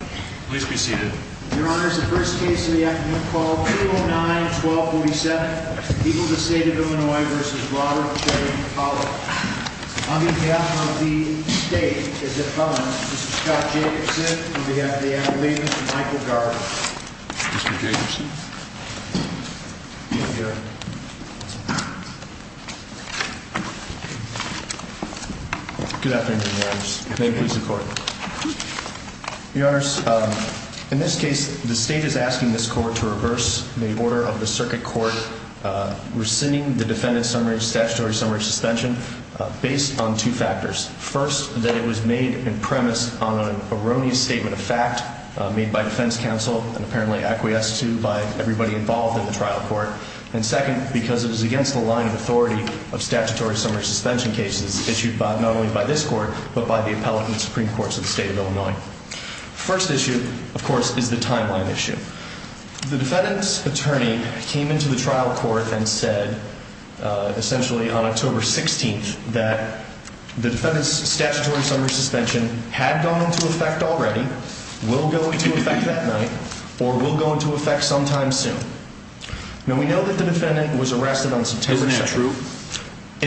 The first case of the afternoon is 309-12-47, Eagles v. State of Illinois v. Robert J. Pollitt. On behalf of the State, this is Scott Jacobson, and on behalf of the Attorney-General, this is Michael Gardner. Mr. Jacobson. Thank you. Good afternoon, Your Honors. May it please the Court. Your Honors, in this case, the State is asking this Court to reverse the order of the Circuit Court rescinding the defendant's statutory summary suspension based on two factors. First, that it was made on premise on an erroneous statement of fact made by defense counsel and apparently acquiesced to by everybody involved in the trial court. And second, because it was against the line of authority of statutory summary suspension cases issued not only by this Court, but by the Appellate and Supreme Courts of the State of Illinois. First issue, of course, is the timeline issue. The defendant's attorney came into the trial court and said, essentially on October 16th, that the defendant's statutory summary suspension had gone into effect already, will go into effect that night, or will go into effect sometime soon. Now, we know that the defendant was arrested on September 2nd. Isn't that true?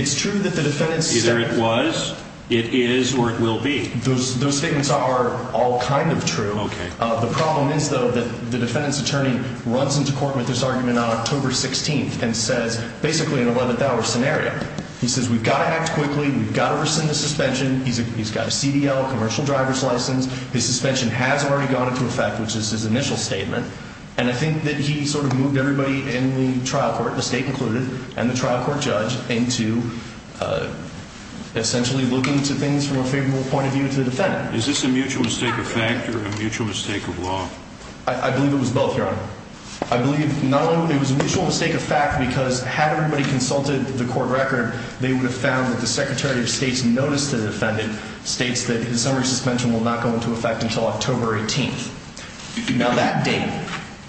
It's true that the defendant's statement... Either it was, it is, or it will be. Those statements are all kind of true. Okay. The problem is, though, that the defendant's attorney runs into court with this argument on October 16th and says, basically in an 11th hour scenario, he says, we've got to act quickly, we've got to rescind the suspension, he's got a CDL, a commercial driver's license, his suspension has already gone into effect, which is his initial statement. And I think that he sort of moved everybody in the trial court, the State included, and the trial court judge into essentially looking to things from a favorable point of view to the defendant. Is this a mutual mistake of fact or a mutual mistake of law? I believe it was both, Your Honor. I believe not only it was a mutual mistake of fact because had everybody consulted the court record, they would have found that the Secretary of State's notice to the defendant states that his summary suspension will not go into effect until October 18th. Now that date,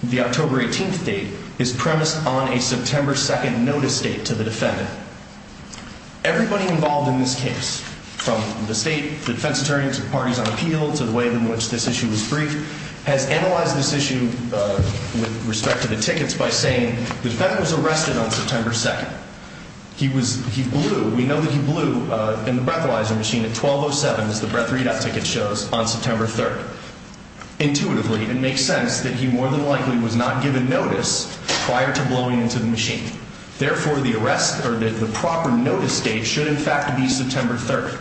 the October 18th date, is premised on a September 2nd notice date to the defendant. Everybody involved in this case, from the State, the defense attorneys, the parties on appeal to the way in which this issue was briefed, has analyzed this issue with respect to the tickets by saying the defendant was arrested on September 2nd. He blew, we know that he blew in the breathalyzer machine at 12.07, as the breath readout ticket shows, on September 3rd. Intuitively, it makes sense that he more than likely was not given notice prior to blowing into the machine. Therefore, the arrest or the proper notice date should in fact be September 3rd.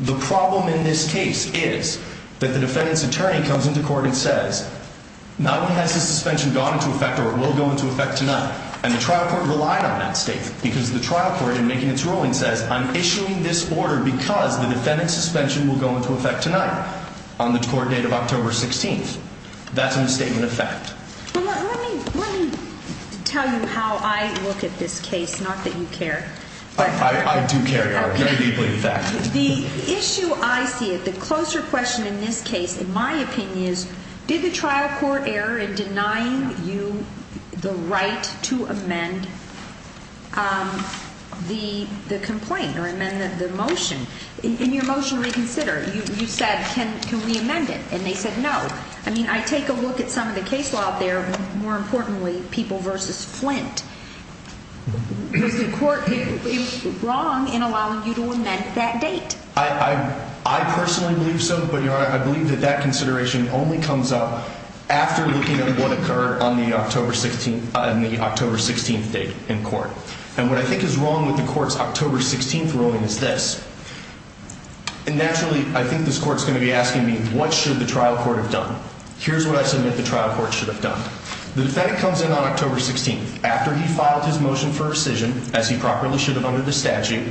The problem in this case is that the defendant's attorney comes into court and says, not only has the suspension gone into effect or it will go into effect tonight, and the trial court relied on that statement because the trial court in making its ruling says, I'm issuing this order because the defendant's suspension will go into effect tonight on the court date of October 16th. That's a misstatement of fact. Let me tell you how I look at this case, not that you care. I do care, Your Honor, very deeply, in fact. The issue I see, the closer question in this case, in my opinion, is did the trial court err in denying you the right to amend the complaint or amend the motion? In your motion reconsider, you said, can we amend it? And they said no. I mean, I take a look at some of the case law out there, more importantly, people versus Flint. Is the court wrong in allowing you to amend that date? I personally believe so, but, Your Honor, I believe that that consideration only comes up after looking at what occurred on the October 16th date in court. And what I think is wrong with the court's October 16th ruling is this. And naturally, I think this court's going to be asking me, what should the trial court have done? Here's what I submit the trial court should have done. The defendant comes in on October 16th. After he filed his motion for rescission, as he properly should have under the statute,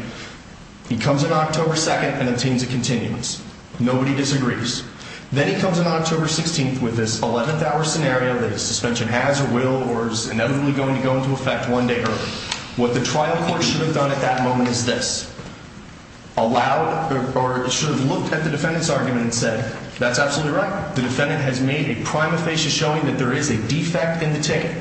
he comes in on October 2nd and obtains a continuance. Nobody disagrees. Then he comes in on October 16th with this 11th-hour scenario that his suspension has or will or is inevitably going to go into effect one day early. What the trial court should have done at that moment is this. Allowed, or should have looked at the defendant's argument and said, that's absolutely right. The defendant has made a prime aphasia showing that there is a defect in the ticket.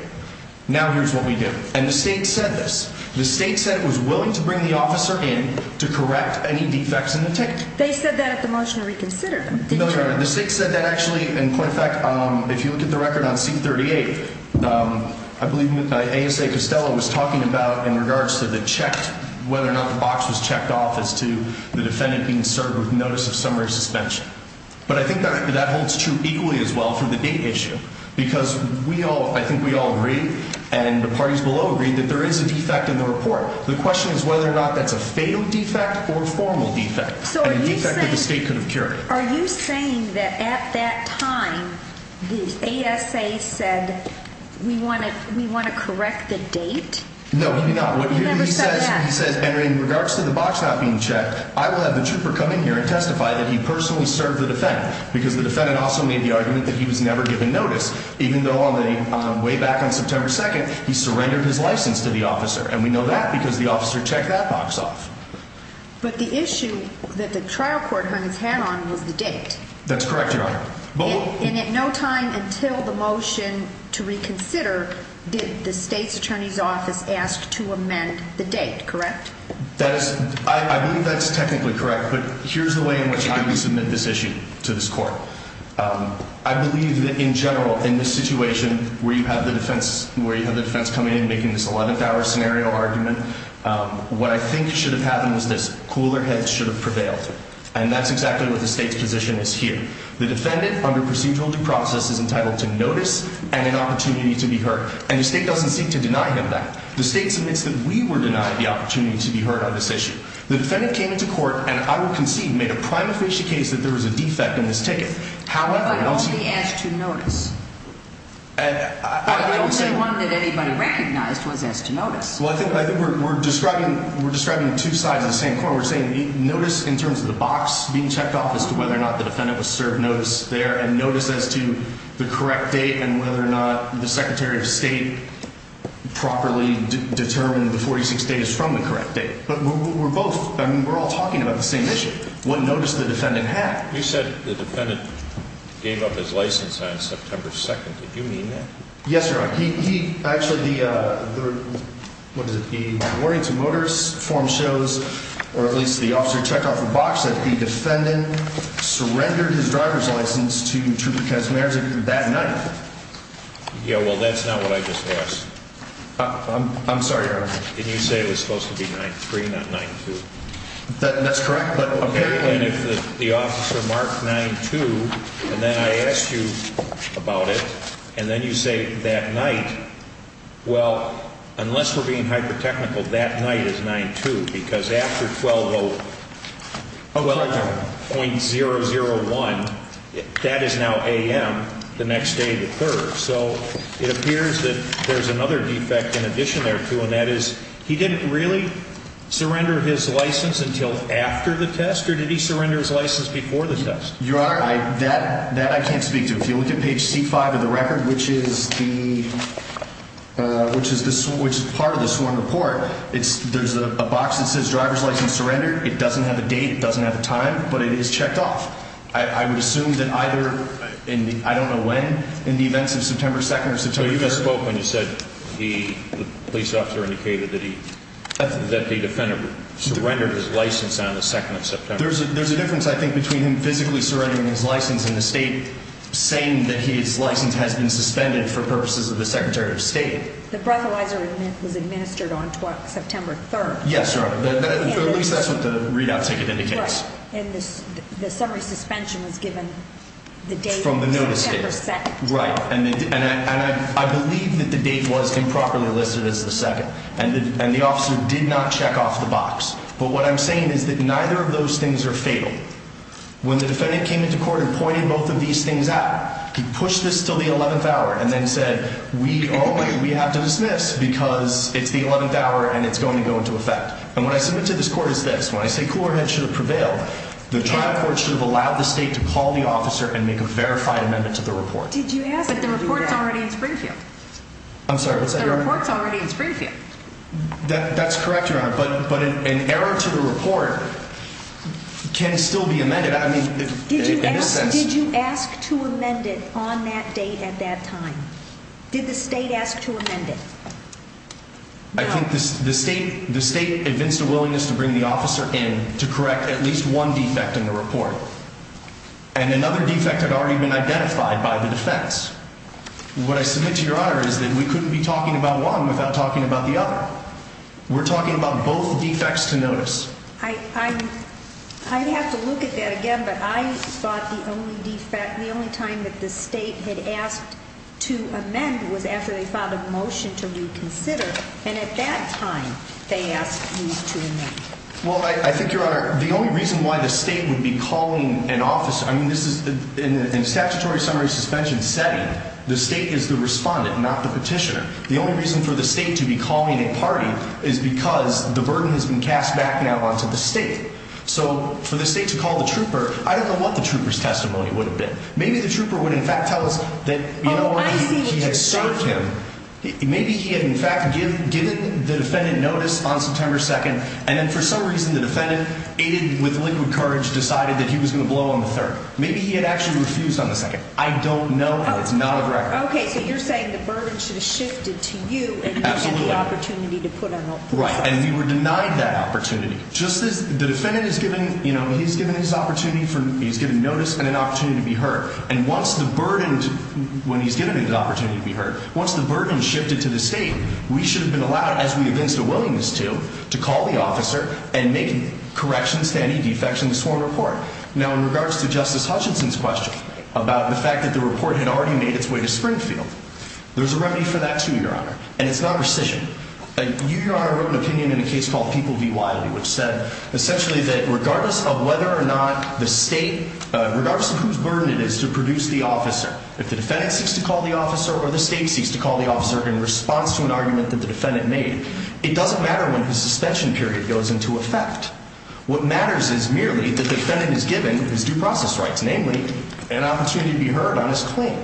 Now here's what we do. And the state said this. The state said it was willing to bring the officer in to correct any defects in the ticket. They said that at the motion to reconsider, didn't they? No, no. The state said that actually. In point of fact, if you look at the record on C-38, I believe ASA Costello was talking about in regards to the checked, whether or not the box was checked off as to the defendant being served with notice of summary suspension. But I think that holds true equally as well for the date issue. Because we all, I think we all agree, and the parties below agree, that there is a defect in the report. The question is whether or not that's a failed defect or formal defect. A defect that the state could have cured. So are you saying that at that time the ASA said, we want to correct the date? No, he did not. He never said that. And in regards to the box not being checked, I will have the trooper come in here and testify that he personally served the defendant. Because the defendant also made the argument that he was never given notice. Even though on the way back on September 2nd, he surrendered his license to the officer. And we know that because the officer checked that box off. But the issue that the trial court hung his hat on was the date. That's correct, Your Honor. And at no time until the motion to reconsider did the state's attorney's office ask to amend the date, correct? I believe that's technically correct. But here's the way in which I would submit this issue to this court. I believe that in general, in this situation, where you have the defense coming in and making this 11th hour scenario argument, what I think should have happened was this. Cooler heads should have prevailed. And that's exactly what the state's position is here. The defendant, under procedural due process, is entitled to notice and an opportunity to be heard. And the state doesn't seek to deny him that. The state submits that we were denied the opportunity to be heard on this issue. The defendant came into court and, I would concede, made a prima facie case that there was a defect in this ticket. But only as to notice. The only one that anybody recognized was as to notice. Well, I think we're describing two sides of the same coin. We're saying notice in terms of the box being checked off as to whether or not the defendant was served notice there, and notice as to the correct date and whether or not the Secretary of State properly determined the 46 days from the correct date. But we're both, I mean, we're all talking about the same issue, what notice the defendant had. You said the defendant gave up his license on September 2nd. Did you mean that? Yes, Your Honor. He actually, the, what is it, the Warrington Motorist form shows, or at least the officer checked off the box, that the defendant surrendered his driver's license to Trudy Kaczmarek that night. Yeah, well, that's not what I just asked. I'm sorry, Your Honor. Didn't you say it was supposed to be 9-3, not 9-2? That's correct, but apparently... And if the officer marked 9-2, and then I asked you about it, and then you say that night, well, unless we're being hyper-technical, that night is 9-2, because after 12-0... 12-0.001, that is now a.m. the next day of the 3rd. So it appears that there's another defect in addition there, too, and that is he didn't really surrender his license until after the test, or did he surrender his license before the test? Your Honor, that I can't speak to. If you look at page C-5 of the record, which is the, which is part of the sworn report, there's a box that says driver's license surrendered. It doesn't have a date, it doesn't have a time, but it is checked off. I would assume that either in the, I don't know when, in the events of September 2nd or September 3rd... So you just spoke when you said the police officer indicated that he, that the defendant surrendered his license on the 2nd of September. There's a difference, I think, between him physically surrendering his license and the state saying that his license has been suspended for purposes of the Secretary of State. The breathalyzer was administered on September 3rd. Yes, Your Honor, but at least that's what the readout ticket indicates. Right, and the summary suspension was given the date of September 2nd. Right, and I believe that the date was improperly listed as the 2nd, and the officer did not check off the box. But what I'm saying is that neither of those things are fatal. When the defendant came into court and pointed both of these things out, he pushed this until the 11th hour and then said, we have to dismiss because it's the 11th hour and it's going to go into effect. And when I submit to this court as this, when I say Coolerhead should have prevailed, the trial court should have allowed the state to call the officer and make a verified amendment to the report. But the report's already in Springfield. I'm sorry, what's that, Your Honor? The report's already in Springfield. Did you ask to amend it on that date at that time? Did the state ask to amend it? I think the state evinced a willingness to bring the officer in to correct at least one defect in the report. And another defect had already been identified by the defense. What I submit to Your Honor is that we couldn't be talking about one without talking about the other. We're talking about both defects to notice. I'd have to look at that again, but I thought the only time that the state had asked to amend was after they filed a motion to reconsider. And at that time, they asked you to amend. Well, I think, Your Honor, the only reason why the state would be calling an officer, I mean, in a statutory summary suspension setting, the state is the respondent, not the petitioner. The only reason for the state to be calling a party is because the burden has been cast back now onto the state. So for the state to call the trooper, I don't know what the trooper's testimony would have been. Maybe the trooper would in fact tell us that he had served him. Maybe he had in fact given the defendant notice on September 2nd, and then for some reason the defendant, aided with liquid courage, decided that he was going to blow on the 3rd. Maybe he had actually refused on the 2nd. I don't know, and it's not a record. Okay, so you're saying the burden should have shifted to you and you had the opportunity to put out the report. Right, and we were denied that opportunity. Just as the defendant is given, you know, he's given his opportunity, he's given notice and an opportunity to be heard. And once the burden, when he's given the opportunity to be heard, once the burden shifted to the state, we should have been allowed, as we evinced a willingness to, to call the officer and make corrections to any defects in the sworn report. Now in regards to Justice Hutchinson's question about the fact that the report had already made its way to Springfield, there's a remedy for that too, Your Honor, and it's not rescission. You, Your Honor, wrote an opinion in a case called People v. Wiley, which said essentially that regardless of whether or not the state, regardless of whose burden it is to produce the officer, if the defendant seeks to call the officer or the state seeks to call the officer in response to an argument that the defendant made, it doesn't matter when his suspension period goes into effect. What matters is merely that the defendant is given his due process rights, namely an opportunity to be heard on his claim.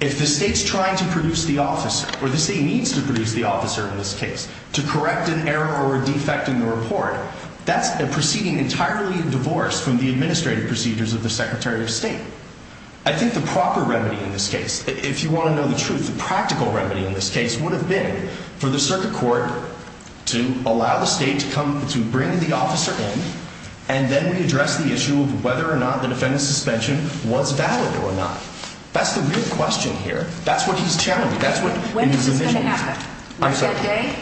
If the state's trying to produce the officer, or the state needs to produce the officer in this case, to correct an error or a defect in the report, that's a proceeding entirely in divorce from the administrative procedures of the Secretary of State. I think the proper remedy in this case, if you want to know the truth, the practical remedy in this case would have been for the circuit court to allow the state to come, to bring the officer in, and then we address the issue of whether or not the defendant's suspension was valid or not. That's the real question here. That's what he's challenging. When is this going to happen? Right that day?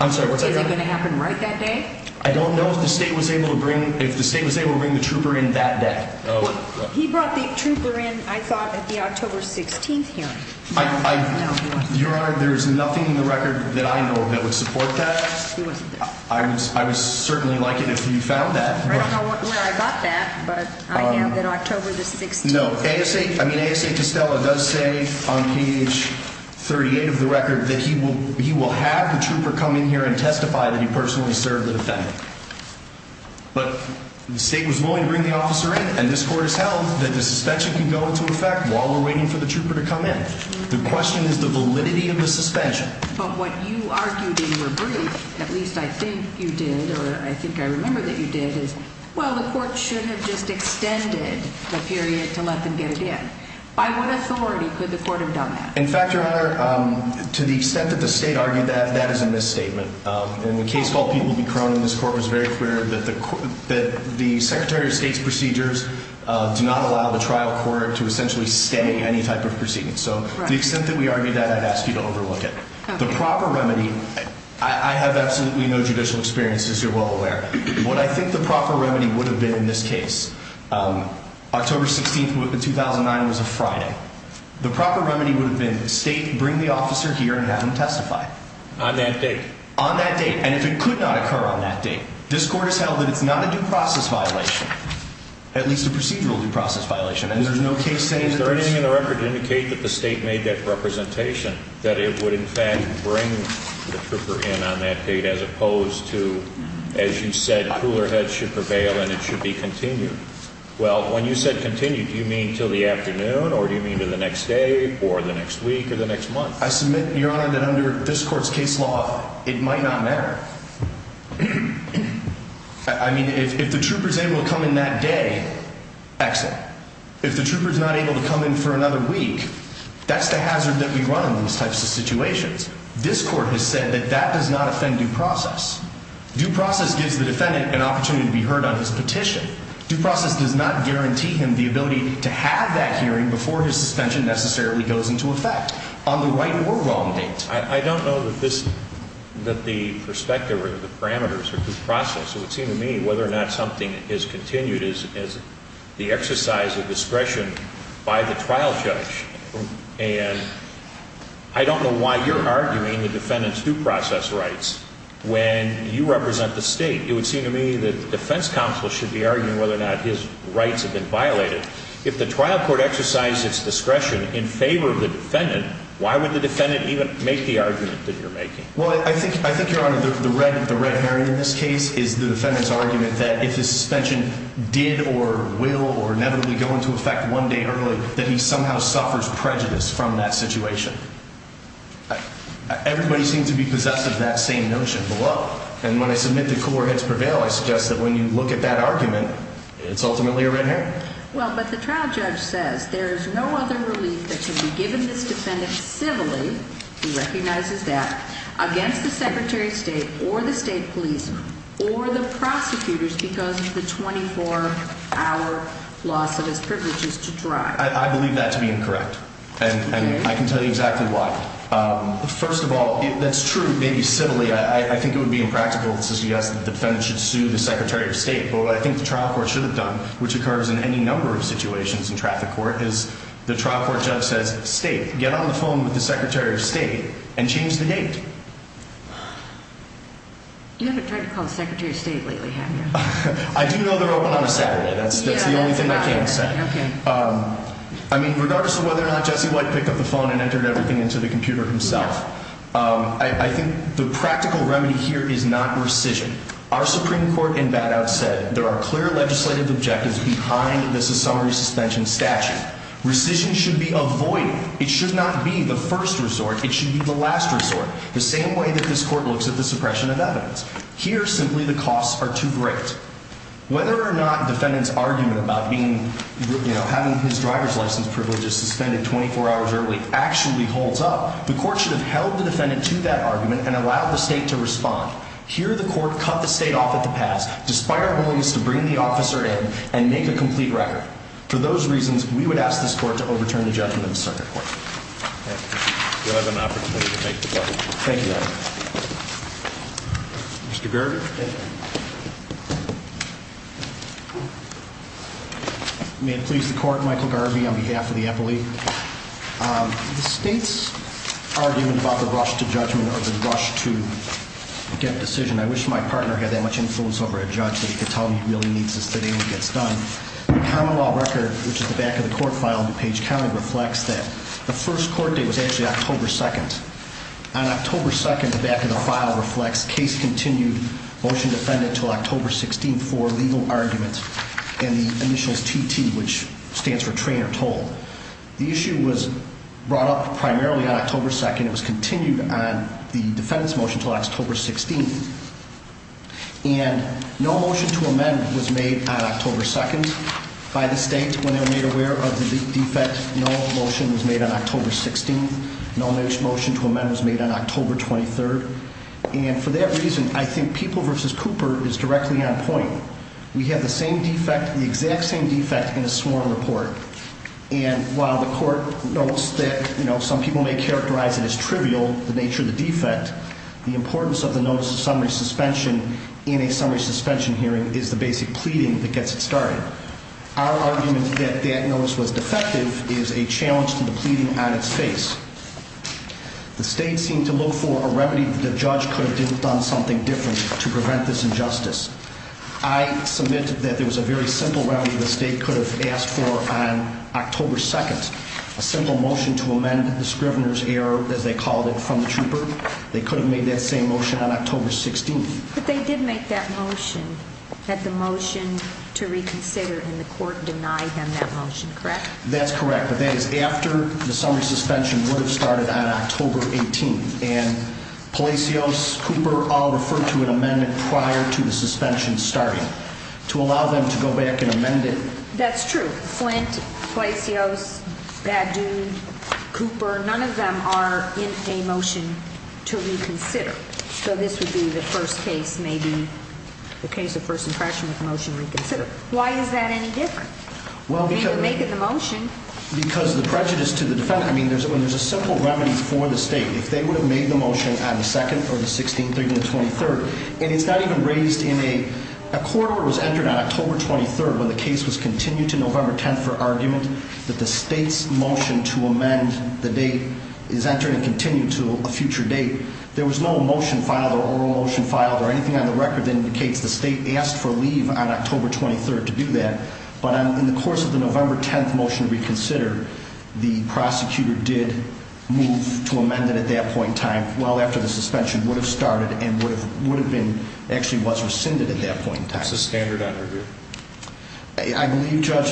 I'm sorry, what's that? Is it going to happen right that day? I don't know if the state was able to bring the trooper in that day. He brought the trooper in, I thought, at the October 16th hearing. Your Honor, there's nothing in the record that I know that would support that. I would certainly like it if you found that. I don't know where I got that, but I have that October the 16th. No, ASA Tostella does say on page 38 of the record that he will have the trooper come in here and testify that he personally served the defendant. But the state was willing to bring the officer in, and this Court has held that the suspension can go into effect while we're waiting for the trooper to come in. The question is the validity of the suspension. But what you argued in your brief, at least I think you did, or I think I remember that you did, is, well, the Court should have just extended the period to let them get it in. By what authority could the Court have done that? In fact, Your Honor, to the extent that the state argued that, that is a misstatement. In the case called People v. Cronin, this Court was very clear that the Secretary of State's procedures do not allow the trial court to essentially stay any type of proceedings. So to the extent that we argued that, I'd ask you to overlook it. The proper remedy, I have absolutely no judicial experience, as you're well aware. What I think the proper remedy would have been in this case, October 16, 2009 was a Friday. The proper remedy would have been the state bring the officer here and have him testify. On that date? On that date. And if it could not occur on that date, this Court has held that it's not a due process violation, at least a procedural due process violation. And there's no case saying that this... Is there anything in the record to indicate that the state made that representation, that it would in fact bring the trooper in on that date, as opposed to, as you said, cooler heads should prevail and it should be continued? Well, when you said continued, do you mean till the afternoon, or do you mean to the next day, or the next week, or the next month? I submit, Your Honor, that under this Court's case law, it might not matter. I mean, if the trooper's able to come in that day, excellent. If the trooper's not able to come in for another week, that's the hazard that we run in these types of situations. This Court has said that that does not offend due process. Due process gives the defendant an opportunity to be heard on his petition. Due process does not guarantee him the ability to have that hearing before his suspension necessarily goes into effect on the right or wrong date. I don't know that the perspective or the parameters of due process. It would seem to me whether or not something is continued is the exercise of discretion by the trial judge. And I don't know why you're arguing the defendant's due process rights when you represent the State. It would seem to me that the defense counsel should be arguing whether or not his rights have been violated. If the trial court exercised its discretion in favor of the defendant, why would the defendant even make the argument that you're making? Well, I think, Your Honor, the red herring in this case is the defendant's argument that if his suspension did or will or inevitably go into effect one day early, that he somehow suffers prejudice from that situation. Everybody seems to be possessive of that same notion. And when I submit that cooler heads prevail, I suggest that when you look at that argument, it's ultimately a red herring. Well, but the trial judge says there is no other relief that can be given this defendant civilly, he recognizes that, against the Secretary of State or the State Police or the prosecutors because of the 24-hour loss of his privileges to drive. I believe that to be incorrect, and I can tell you exactly why. First of all, that's true, maybe civilly, I think it would be impractical to suggest that the defendant should sue the Secretary of State. But what I think the trial court should have done, which occurs in any number of situations in traffic court, is the trial court judge says, State, get on the phone with the Secretary of State and change the date. You haven't tried to call the Secretary of State lately, have you? I do know they're open on a Saturday. That's the only thing I can say. I mean, regardless of whether or not Jesse White picked up the phone and entered everything into the computer himself, I think the practical remedy here is not rescission. Our Supreme Court in bad out said there are clear legislative objectives behind the summary suspension statute. Rescission should be avoided. It should not be the first resort, it should be the last resort. The same way that this court looks at the suppression of evidence. Here, simply, the costs are too great. Whether or not the defendant's argument about having his driver's license privileges suspended 24 hours early actually holds up, the court should have held the defendant to that argument and allowed the state to respond. Here, the court cut the state off at the pass, despite our willingness to bring the officer in and make a complete record. For those reasons, we would ask this court to overturn the judgment of the circuit court. You'll have an opportunity to make the judgment. Thank you, Your Honor. Mr. Gerger. May it please the Court, Michael Garvey on behalf of the appellee. The state's argument about the rush to judgment or the rush to get a decision, I wish my partner had that much influence over a judge that he could tell me really needs a sitting and gets done. The common law record, which is the back of the court file in DuPage County, reflects that the first court date was actually October 2nd. On October 2nd, the back of the file reflects case continued, motion defended until October 16th for legal argument, and the initials TT, which stands for train or toll. The issue was brought up primarily on October 2nd. It was continued on the defendant's motion until October 16th. And no motion to amend was made on October 2nd by the state when they were made aware of the defect. No motion was made on October 16th. No motion to amend was made on October 23rd. And for that reason, I think People v. Cooper is directly on point. We have the same defect, the exact same defect, in a sworn report. And while the court notes that some people may characterize it as trivial, the nature of the defect, the importance of the notice of summary suspension in a summary suspension hearing is the basic pleading that gets it started. Our argument that that notice was defective is a challenge to the pleading on its face. The state seemed to look for a remedy that the judge could have done something different to prevent this injustice. I submit that there was a very simple remedy the state could have asked for on October 2nd, a simple motion to amend the Scrivener's Error, as they called it, from the trooper. They could have made that same motion on October 16th. But they did make that motion, had the motion to reconsider, and the court denied them that motion, correct? That's correct, but that is after the summary suspension would have started on October 18th. And Palacios, Cooper all referred to an amendment prior to the suspension starting. To allow them to go back and amend it. That's true. Flint, Palacios, Badoon, Cooper, none of them are in a motion to reconsider. So this would be the first case, maybe, the case of first impression with a motion to reconsider. Why is that any different? Well, because the prejudice to the defendant, I mean, when there's a simple remedy for the state, if they would have made the motion on the 2nd or the 16th or even the 23rd, and it's not even raised in a court order that was entered on October 23rd, when the case was continued to November 10th for argument, that the state's motion to amend the date is entered and continued to a future date, there was no motion filed or oral motion filed or anything on the record that indicates the state asked for leave on October 23rd to do that. But in the course of the November 10th motion to reconsider, the prosecutor did move to amend it at that point in time, well after the suspension would have started and would have been, actually was rescinded at that point in time. It's a standard under review. I believe, Judge,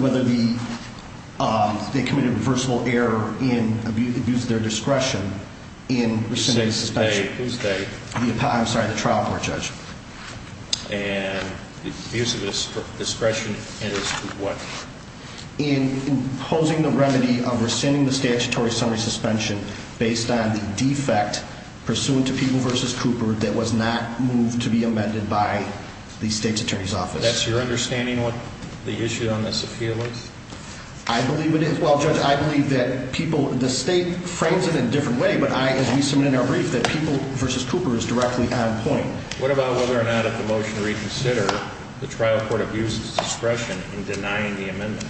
whether they committed reversible error in abuse of their discretion in rescinding the suspension. Who's they? I'm sorry, the trial court, Judge. And abuse of discretion in what? In imposing the remedy of rescinding the statutory summary suspension based on the defect pursuant to Peeble v. Cooper That's your understanding of what the issue on this appeal is? I believe it is. Well, Judge, I believe that people, the state frames it in a different way, but I, as we submit in our brief, that Peeble v. Cooper is directly on point. What about whether or not if the motion to reconsider, the trial court abuses discretion in denying the amendment?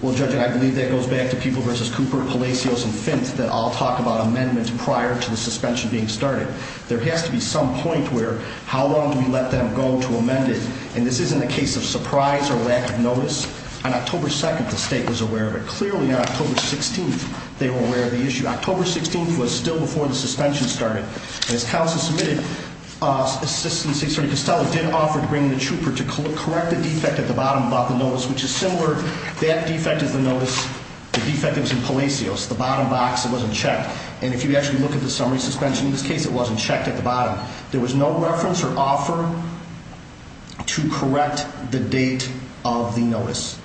Well, Judge, I believe that goes back to Peeble v. Cooper, Palacios, and Finth, that all talk about amendments prior to the suspension being started. There has to be some point where, how long do we let them go to amend it? And this isn't a case of surprise or lack of notice. On October 2nd, the state was aware of it. Clearly, on October 16th, they were aware of the issue. October 16th was still before the suspension started. And as counsel submitted assistance, he said Costello did offer to bring the trooper to correct the defect at the bottom about the notice, which is similar. That defect is the notice, the defect that was in Palacios. The bottom box, it wasn't checked. And if you actually look at the summary suspension in this case, it wasn't checked at the bottom. There was no reference or offer to correct the date of the notice.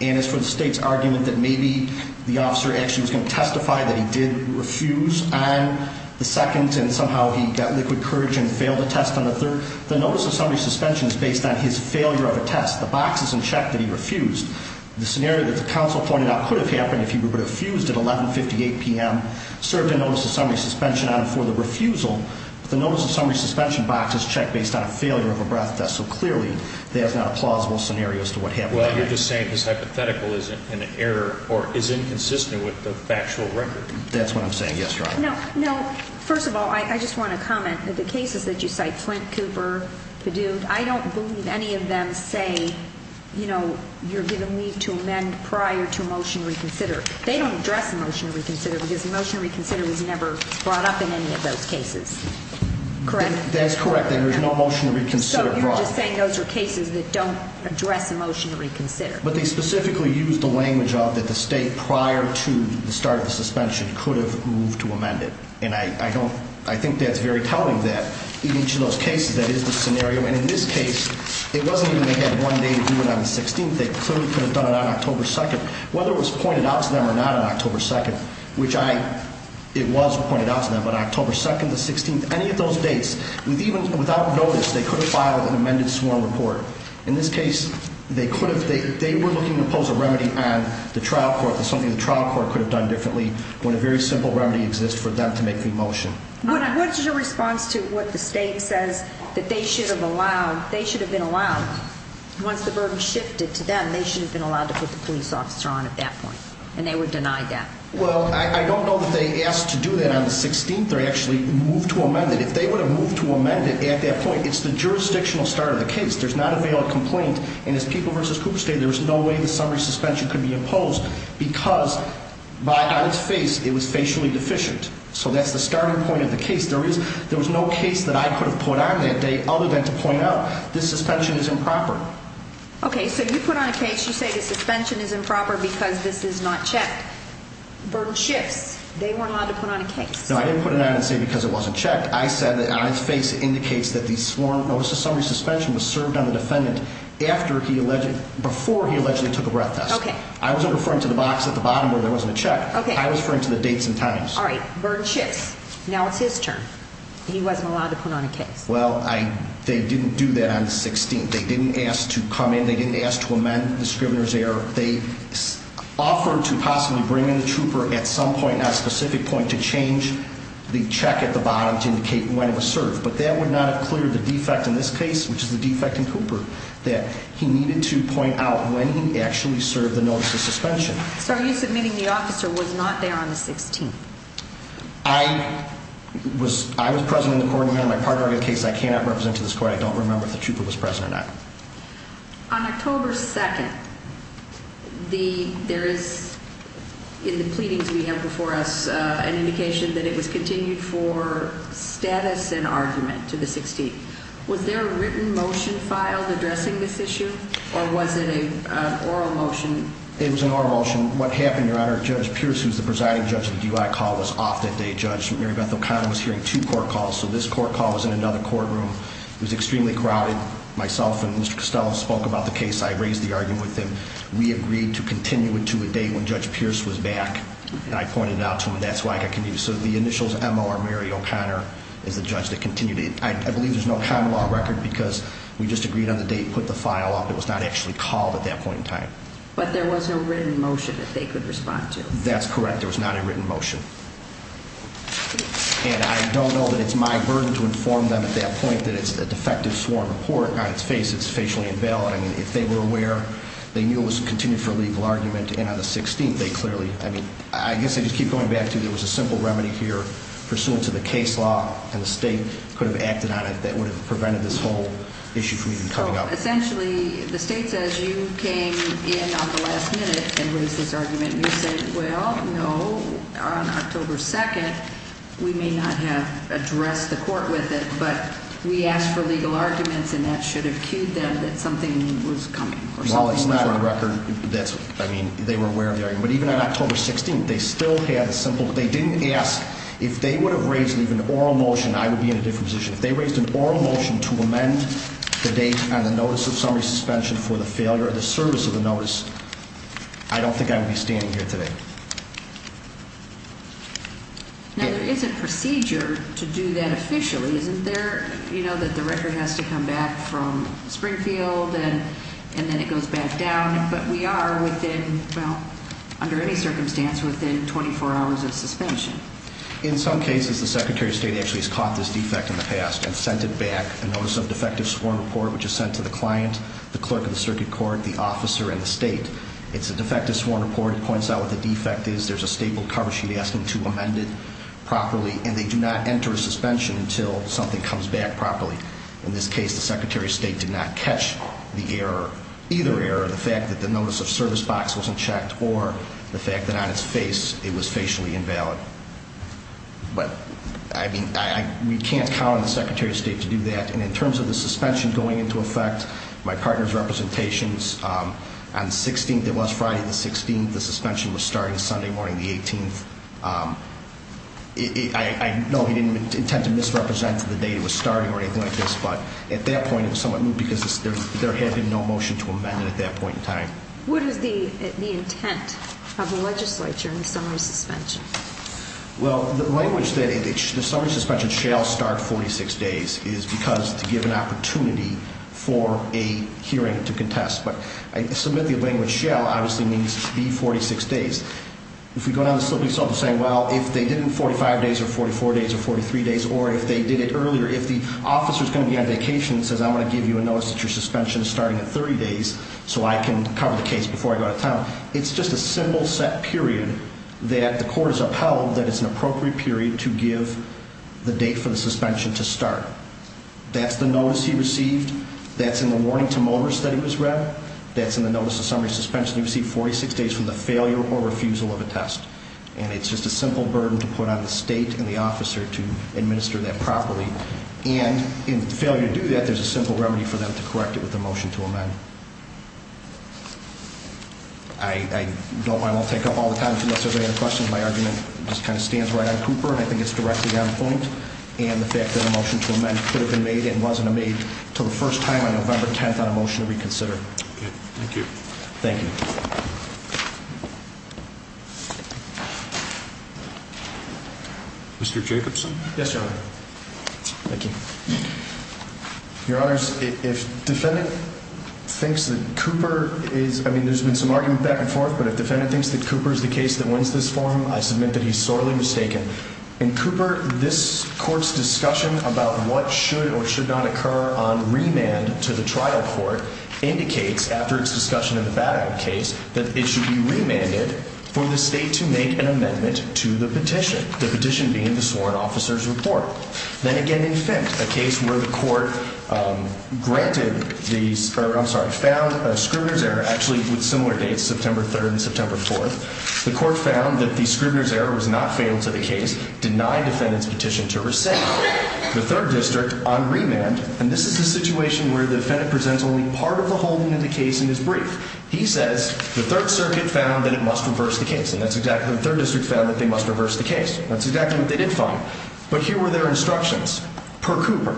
And it's for the state's argument that maybe the officer actually was going to testify that he did refuse on the 2nd and somehow he got liquid courage and failed the test on the 3rd. The notice of summary suspension is based on his failure of a test. The box is in check that he refused. The scenario that the counsel pointed out could have happened if he would have refused at 11.58 p.m., served a notice of summary suspension on him for the refusal. The notice of summary suspension box is checked based on a failure of a breath test, so clearly there's not a plausible scenario as to what happened. Well, you're just saying his hypothetical is an error or is inconsistent with the factual record. That's what I'm saying. Yes, Your Honor. No, no. First of all, I just want to comment that the cases that you cite, Flint, Cooper, Padute, I don't believe any of them say, you know, you're giving me to amend prior to a motion to reconsider. They don't address a motion to reconsider because a motion to reconsider was never brought up in any of those cases. Correct? That's correct. There was no motion to reconsider brought up. So you're just saying those are cases that don't address a motion to reconsider. But they specifically use the language of that the state prior to the start of the suspension could have moved to amend it. And I think that's very telling that in each of those cases that is the scenario. And in this case, it wasn't even they had one day to do it on the 16th. They clearly could have done it on October 2nd. Whether it was pointed out to them or not on October 2nd, which I, it was pointed out to them on October 2nd, the 16th, any of those dates, even without notice, they could have filed an amended sworn report. In this case, they could have, they were looking to pose a remedy and the trial court, something the trial court could have done differently when a very simple remedy exists for them to make the motion. What is your response to what the state says that they should have allowed, they should have been allowed, once the burden shifted to them, they should have been allowed to put the police officer on at that point. And they were denied that. Well, I don't know that they asked to do that on the 16th or actually move to amend it. If they would have moved to amend it at that point, it's the jurisdictional start of the case. There's not a bail complaint. And as People v. Cooper stated, there was no way the summary suspension could be imposed because by its face, it was facially deficient. So that's the starting point of the case. There was no case that I could have put on that day other than to point out this suspension is improper. Okay. So you put on a case, you say the suspension is improper because this is not checked. Burden shifts. They weren't allowed to put on a case. No, I didn't put it on and say because it wasn't checked. I said that on its face, it indicates that the sworn notice of summary suspension was served on the defendant before he allegedly took a breath test. Okay. I wasn't referring to the box at the bottom where there wasn't a check. Okay. I was referring to the dates and times. All right. So you put on a case, you say the suspension is improper because this is not checked. Burden shifts. Now it's his turn. He wasn't allowed to put on a case. Well, they didn't do that on the 16th. They didn't ask to come in. They didn't ask to amend the scrivener's error. They offered to possibly bring in a trooper at some point, not a specific point, to change the check at the bottom to indicate when it was served. But that would not have cleared the defect in this case, which is the defect in Cooper, that he needed to point out when he actually served the notice of suspension. So are you submitting the officer was not there on the 16th? I was present in the court and my partner in the case. I cannot represent to this court. I don't remember if the trooper was present or not. On October 2nd, there is, in the pleadings we have before us, an indication that it was continued for status and argument to the 16th. Was there a written motion filed addressing this issue, or was it an oral motion? It was an oral motion. What happened, Your Honor, Judge Pierce, who's the presiding judge of the DUI call, was off that day, Judge. Mary Beth O'Connor was hearing two court calls, so this court call was in another courtroom. It was extremely crowded. Myself and Mr. Costello spoke about the case. I raised the argument with him. We agreed to continue it to a date when Judge Pierce was back, and I pointed it out to him. That's why I can use the initials M.O. or Mary O'Connor as the judge that continued it. I believe there's no common law record because we just agreed on the date, put the file up. It was not actually called at that point in time. But there was no written motion that they could respond to? That's correct. There was not a written motion. And I don't know that it's my burden to inform them at that point that it's a defective sworn report. On its face, it's facially invalid. I mean, if they were aware, they knew it was continued for legal argument, and on the 16th, they clearly, I mean, I guess I just keep going back to there was a simple remedy here pursuant to the case law, and the state could have acted on it that would have prevented this whole issue from even coming up. But essentially, the state says you came in on the last minute and raised this argument, and you say, well, no, on October 2nd, we may not have addressed the court with it, but we asked for legal arguments, and that should have cued them that something was coming. Well, for the record, I mean, they were aware of the argument. But even on October 16th, they still had a simple, they didn't ask. If they would have raised an oral motion, I would be in a different position. If they raised an oral motion to amend the date and the notice of summary suspension for the failure of the service of the notice, I don't think I would be standing here today. Now, there is a procedure to do that officially, isn't there, you know, that the record has to come back from Springfield and then it goes back down, but we are within, well, under any circumstance within 24 hours of suspension. In some cases, the Secretary of State actually has caught this defect in the past and sent it back, a notice of defective sworn report which is sent to the client, the clerk of the circuit court, the officer, and the state. It's a defective sworn report. It points out what the defect is. There's a staple cover sheet asking to amend it properly, and they do not enter a suspension until something comes back properly. In this case, the Secretary of State did not catch the error, either error, the fact that the notice of service box wasn't checked or the fact that on its face it was facially invalid. But, I mean, we can't count on the Secretary of State to do that, and in terms of the suspension going into effect, my partner's representations, on the 16th, it was Friday the 16th, the suspension was starting Sunday morning the 18th. I know he didn't intend to misrepresent the date it was starting or anything like this, but at that point it was somewhat moot because there had been no motion to amend it at that point in time. What is the intent of the legislature in the summary suspension? Well, the language that the summary suspension shall start 46 days is because to give an opportunity for a hearing to contest. But I submit the language shall obviously means it should be 46 days. If we go down the slip we saw them saying, well, if they did it in 45 days or 44 days or 43 days, or if they did it earlier, if the officer's going to be on vacation and says, I'm going to give you a notice that your suspension is starting in 30 days so I can cover the case before I go to town, it's just a simple set period that the court has upheld that it's an appropriate period to give the date for the suspension to start. That's the notice he received. That's in the warning to motorists that he was read. That's in the notice of summary suspension he received 46 days from the failure or refusal of a test. And it's just a simple burden to put on the state and the officer to administer that properly. And in failure to do that, there's a simple remedy for them to correct it with a motion to amend. I won't take up all the time unless there's any other questions. My argument just kind of stands right on Cooper, and I think it's directly on point. And the fact that a motion to amend could have been made and wasn't made until the first time on November 10th on a motion to reconsider. Thank you. Thank you. Mr. Jacobson. Yes, Your Honor. Thank you. Your Honors, if defendant thinks that Cooper is, I mean, there's been some argument back and forth, but if defendant thinks that Cooper is the case that wins this forum, I submit that he's sorely mistaken. In Cooper, this court's discussion about what should or should not occur on remand to the trial court indicates, after its discussion in the Badaab case, that it should be remanded for the state to make an amendment to the petition, the petition being the sworn officer's report. Then again, in Fendt, a case where the court granted the, or I'm sorry, found a Scribner's error, actually with similar dates, September 3rd and September 4th, the court found that the Scribner's error was not fatal to the case, denied defendant's petition to rescind. The third district on remand, and this is the situation where the defendant presents only part of the holding of the case in his brief. He says, the Third Circuit found that it must reverse the case, and that's exactly what the Third District found, that they must reverse the case. That's exactly what they did find. But here were their instructions. Per Cooper,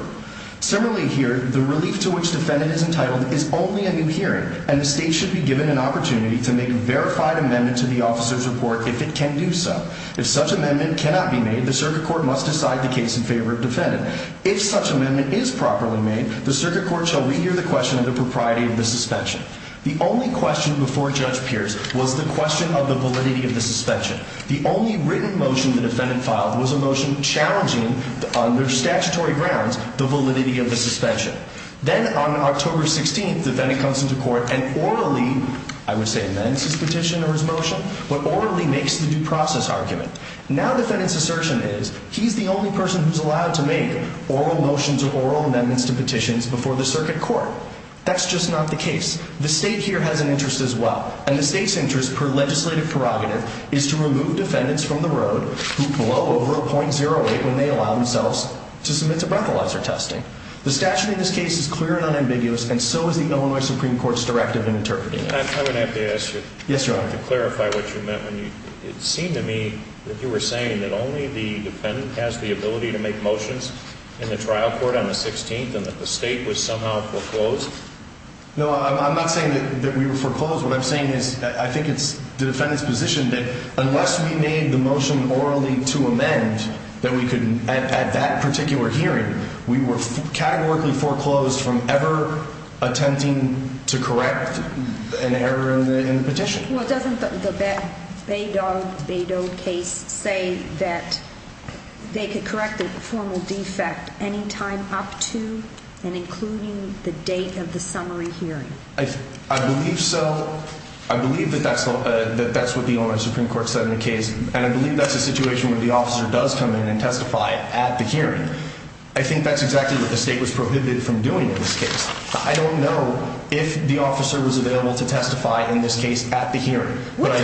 similarly here, the relief to which defendant is entitled is only a new hearing, and the state should be given an opportunity to make a verified amendment to the officer's report if it can do so. If such amendment cannot be made, the circuit court must decide the case in favor of defendant. If such amendment is properly made, the circuit court shall renew the question of the propriety of the suspension. The only question before Judge Pierce was the question of the validity of the suspension. The only written motion the defendant filed was a motion challenging, on their statutory grounds, the validity of the suspension. Then on October 16th, defendant comes into court and orally, I would say amends his petition or his motion, but orally makes the due process argument. Now defendant's assertion is, he's the only person who's allowed to make oral motions or oral amendments to petitions before the circuit court. That's just not the case. The state here has an interest as well. And the state's interest, per legislative prerogative, is to remove defendants from the road who blow over a .08 when they allow themselves to submit to breathalyzer testing. The statute in this case is clear and unambiguous, and so is the Illinois Supreme Court's directive in interpreting it. I would have to ask you to clarify what you meant when you, it seemed to me that you were saying that only the defendant has the ability to make motions in the trial court on the 16th and that the state was somehow foreclosed. No, I'm not saying that we were foreclosed. What I'm saying is, I think it's the defendant's position that unless we made the motion orally to amend, that we could, at that particular hearing, we were categorically foreclosed from ever attempting to correct an error in the petition. Well, doesn't the Beidou case say that they could correct a formal defect anytime up to and including the date of the summary hearing? I believe so. I believe that that's what the Illinois Supreme Court said in the case, and I believe that's a situation where the officer does come in and testify at the hearing. I think that's exactly what the state was prohibited from doing in this case. I don't know if the officer was available to testify in this case at the hearing. What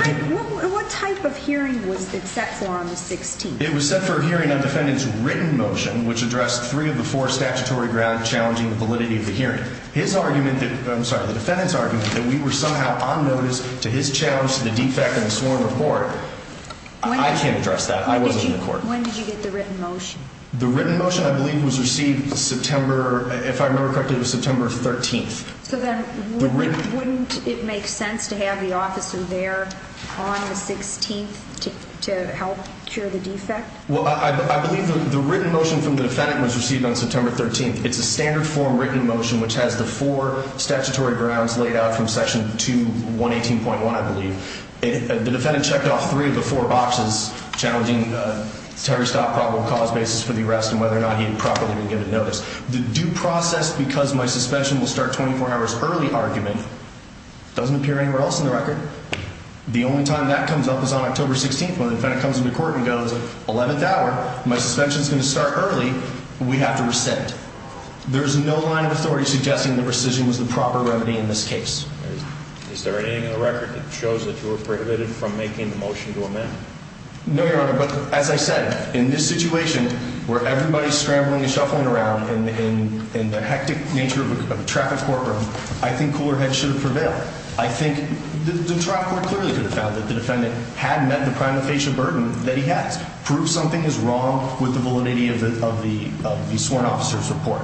type of hearing was it set for on the 16th? It was set for a hearing on the defendant's written motion, which addressed three of the four statutory grounds challenging the validity of the hearing. His argument, I'm sorry, the defendant's argument, that we were somehow on notice to his challenge to the defect in the sworn report, I can't address that. I wasn't in the court. When did you get the written motion? The written motion, I believe, was received September, if I remember correctly, it was September 13th. So then wouldn't it make sense to have the officer there on the 16th to help cure the defect? Well, I believe the written motion from the defendant was received on September 13th. It's a standard form written motion which has the four statutory grounds laid out from Section 218.1, I believe. The defendant checked off three of the four boxes challenging Terry Stott probable cause basis for the arrest and whether or not he had properly been given notice. The due process because my suspension will start 24 hours early argument doesn't appear anywhere else in the record. The only time that comes up is on October 16th when the defendant comes into court and goes, 11th hour, my suspension's going to start early, we have to rescind. There's no line of authority suggesting the rescission was the proper remedy in this case. Is there anything in the record that shows that you were prohibited from making the motion to amend? No, Your Honor, but as I said, in this situation where everybody's scrambling and shuffling around in the hectic nature of a traffic courtroom, I think Coolerhead should have prevailed. I think the trial court clearly could have found that the defendant had met the prime official burden that he has, proved something is wrong with the validity of the sworn officer's report.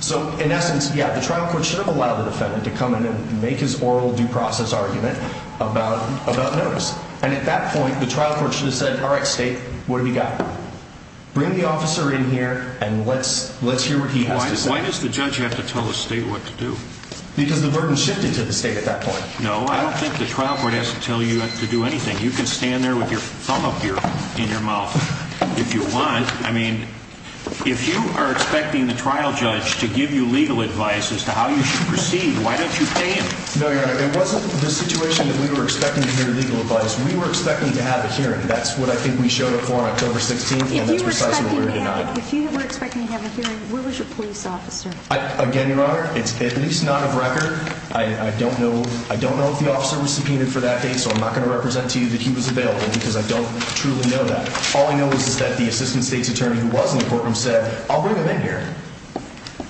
So in essence, yeah, the trial court should have allowed the defendant to come in and make his oral due process argument about notice. And at that point, the trial court should have said, all right, state, what do we got? Bring the officer in here and let's hear what he has to say. Why does the judge have to tell the state what to do? Because the burden shifted to the state at that point. No, I don't think the trial court has to tell you to do anything. You can stand there with your thumb up here in your mouth if you want. I mean, if you are expecting the trial judge to give you legal advice as to how you should proceed, why don't you pay him? No, Your Honor, it wasn't the situation that we were expecting to hear legal advice. We were expecting to have a hearing. That's what I think we showed up for on October 16th, and that's precisely what we were denied. If you were expecting to have a hearing, where was your police officer? Again, Your Honor, it's at least not of record. I don't know if the officer was subpoenaed for that date, so I'm not going to represent to you that he was available because I don't truly know that. All I know is that the assistant state's attorney who was in the courtroom said, I'll bring him in here.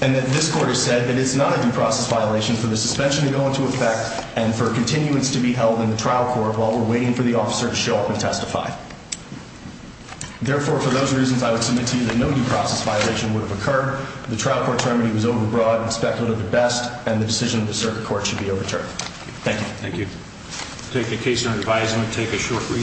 And that this court has said that it's not a due process violation for the suspension to go into effect and for continuance to be held in the trial court while we're waiting for the officer to show up and testify. Therefore, for those reasons, I would submit to you that no due process violation would have occurred. The trial court's remedy was overbroad and speculative at best, and the decision of the circuit court should be overturned. Thank you. Thank you. Take a case under advisement. Take a short recess.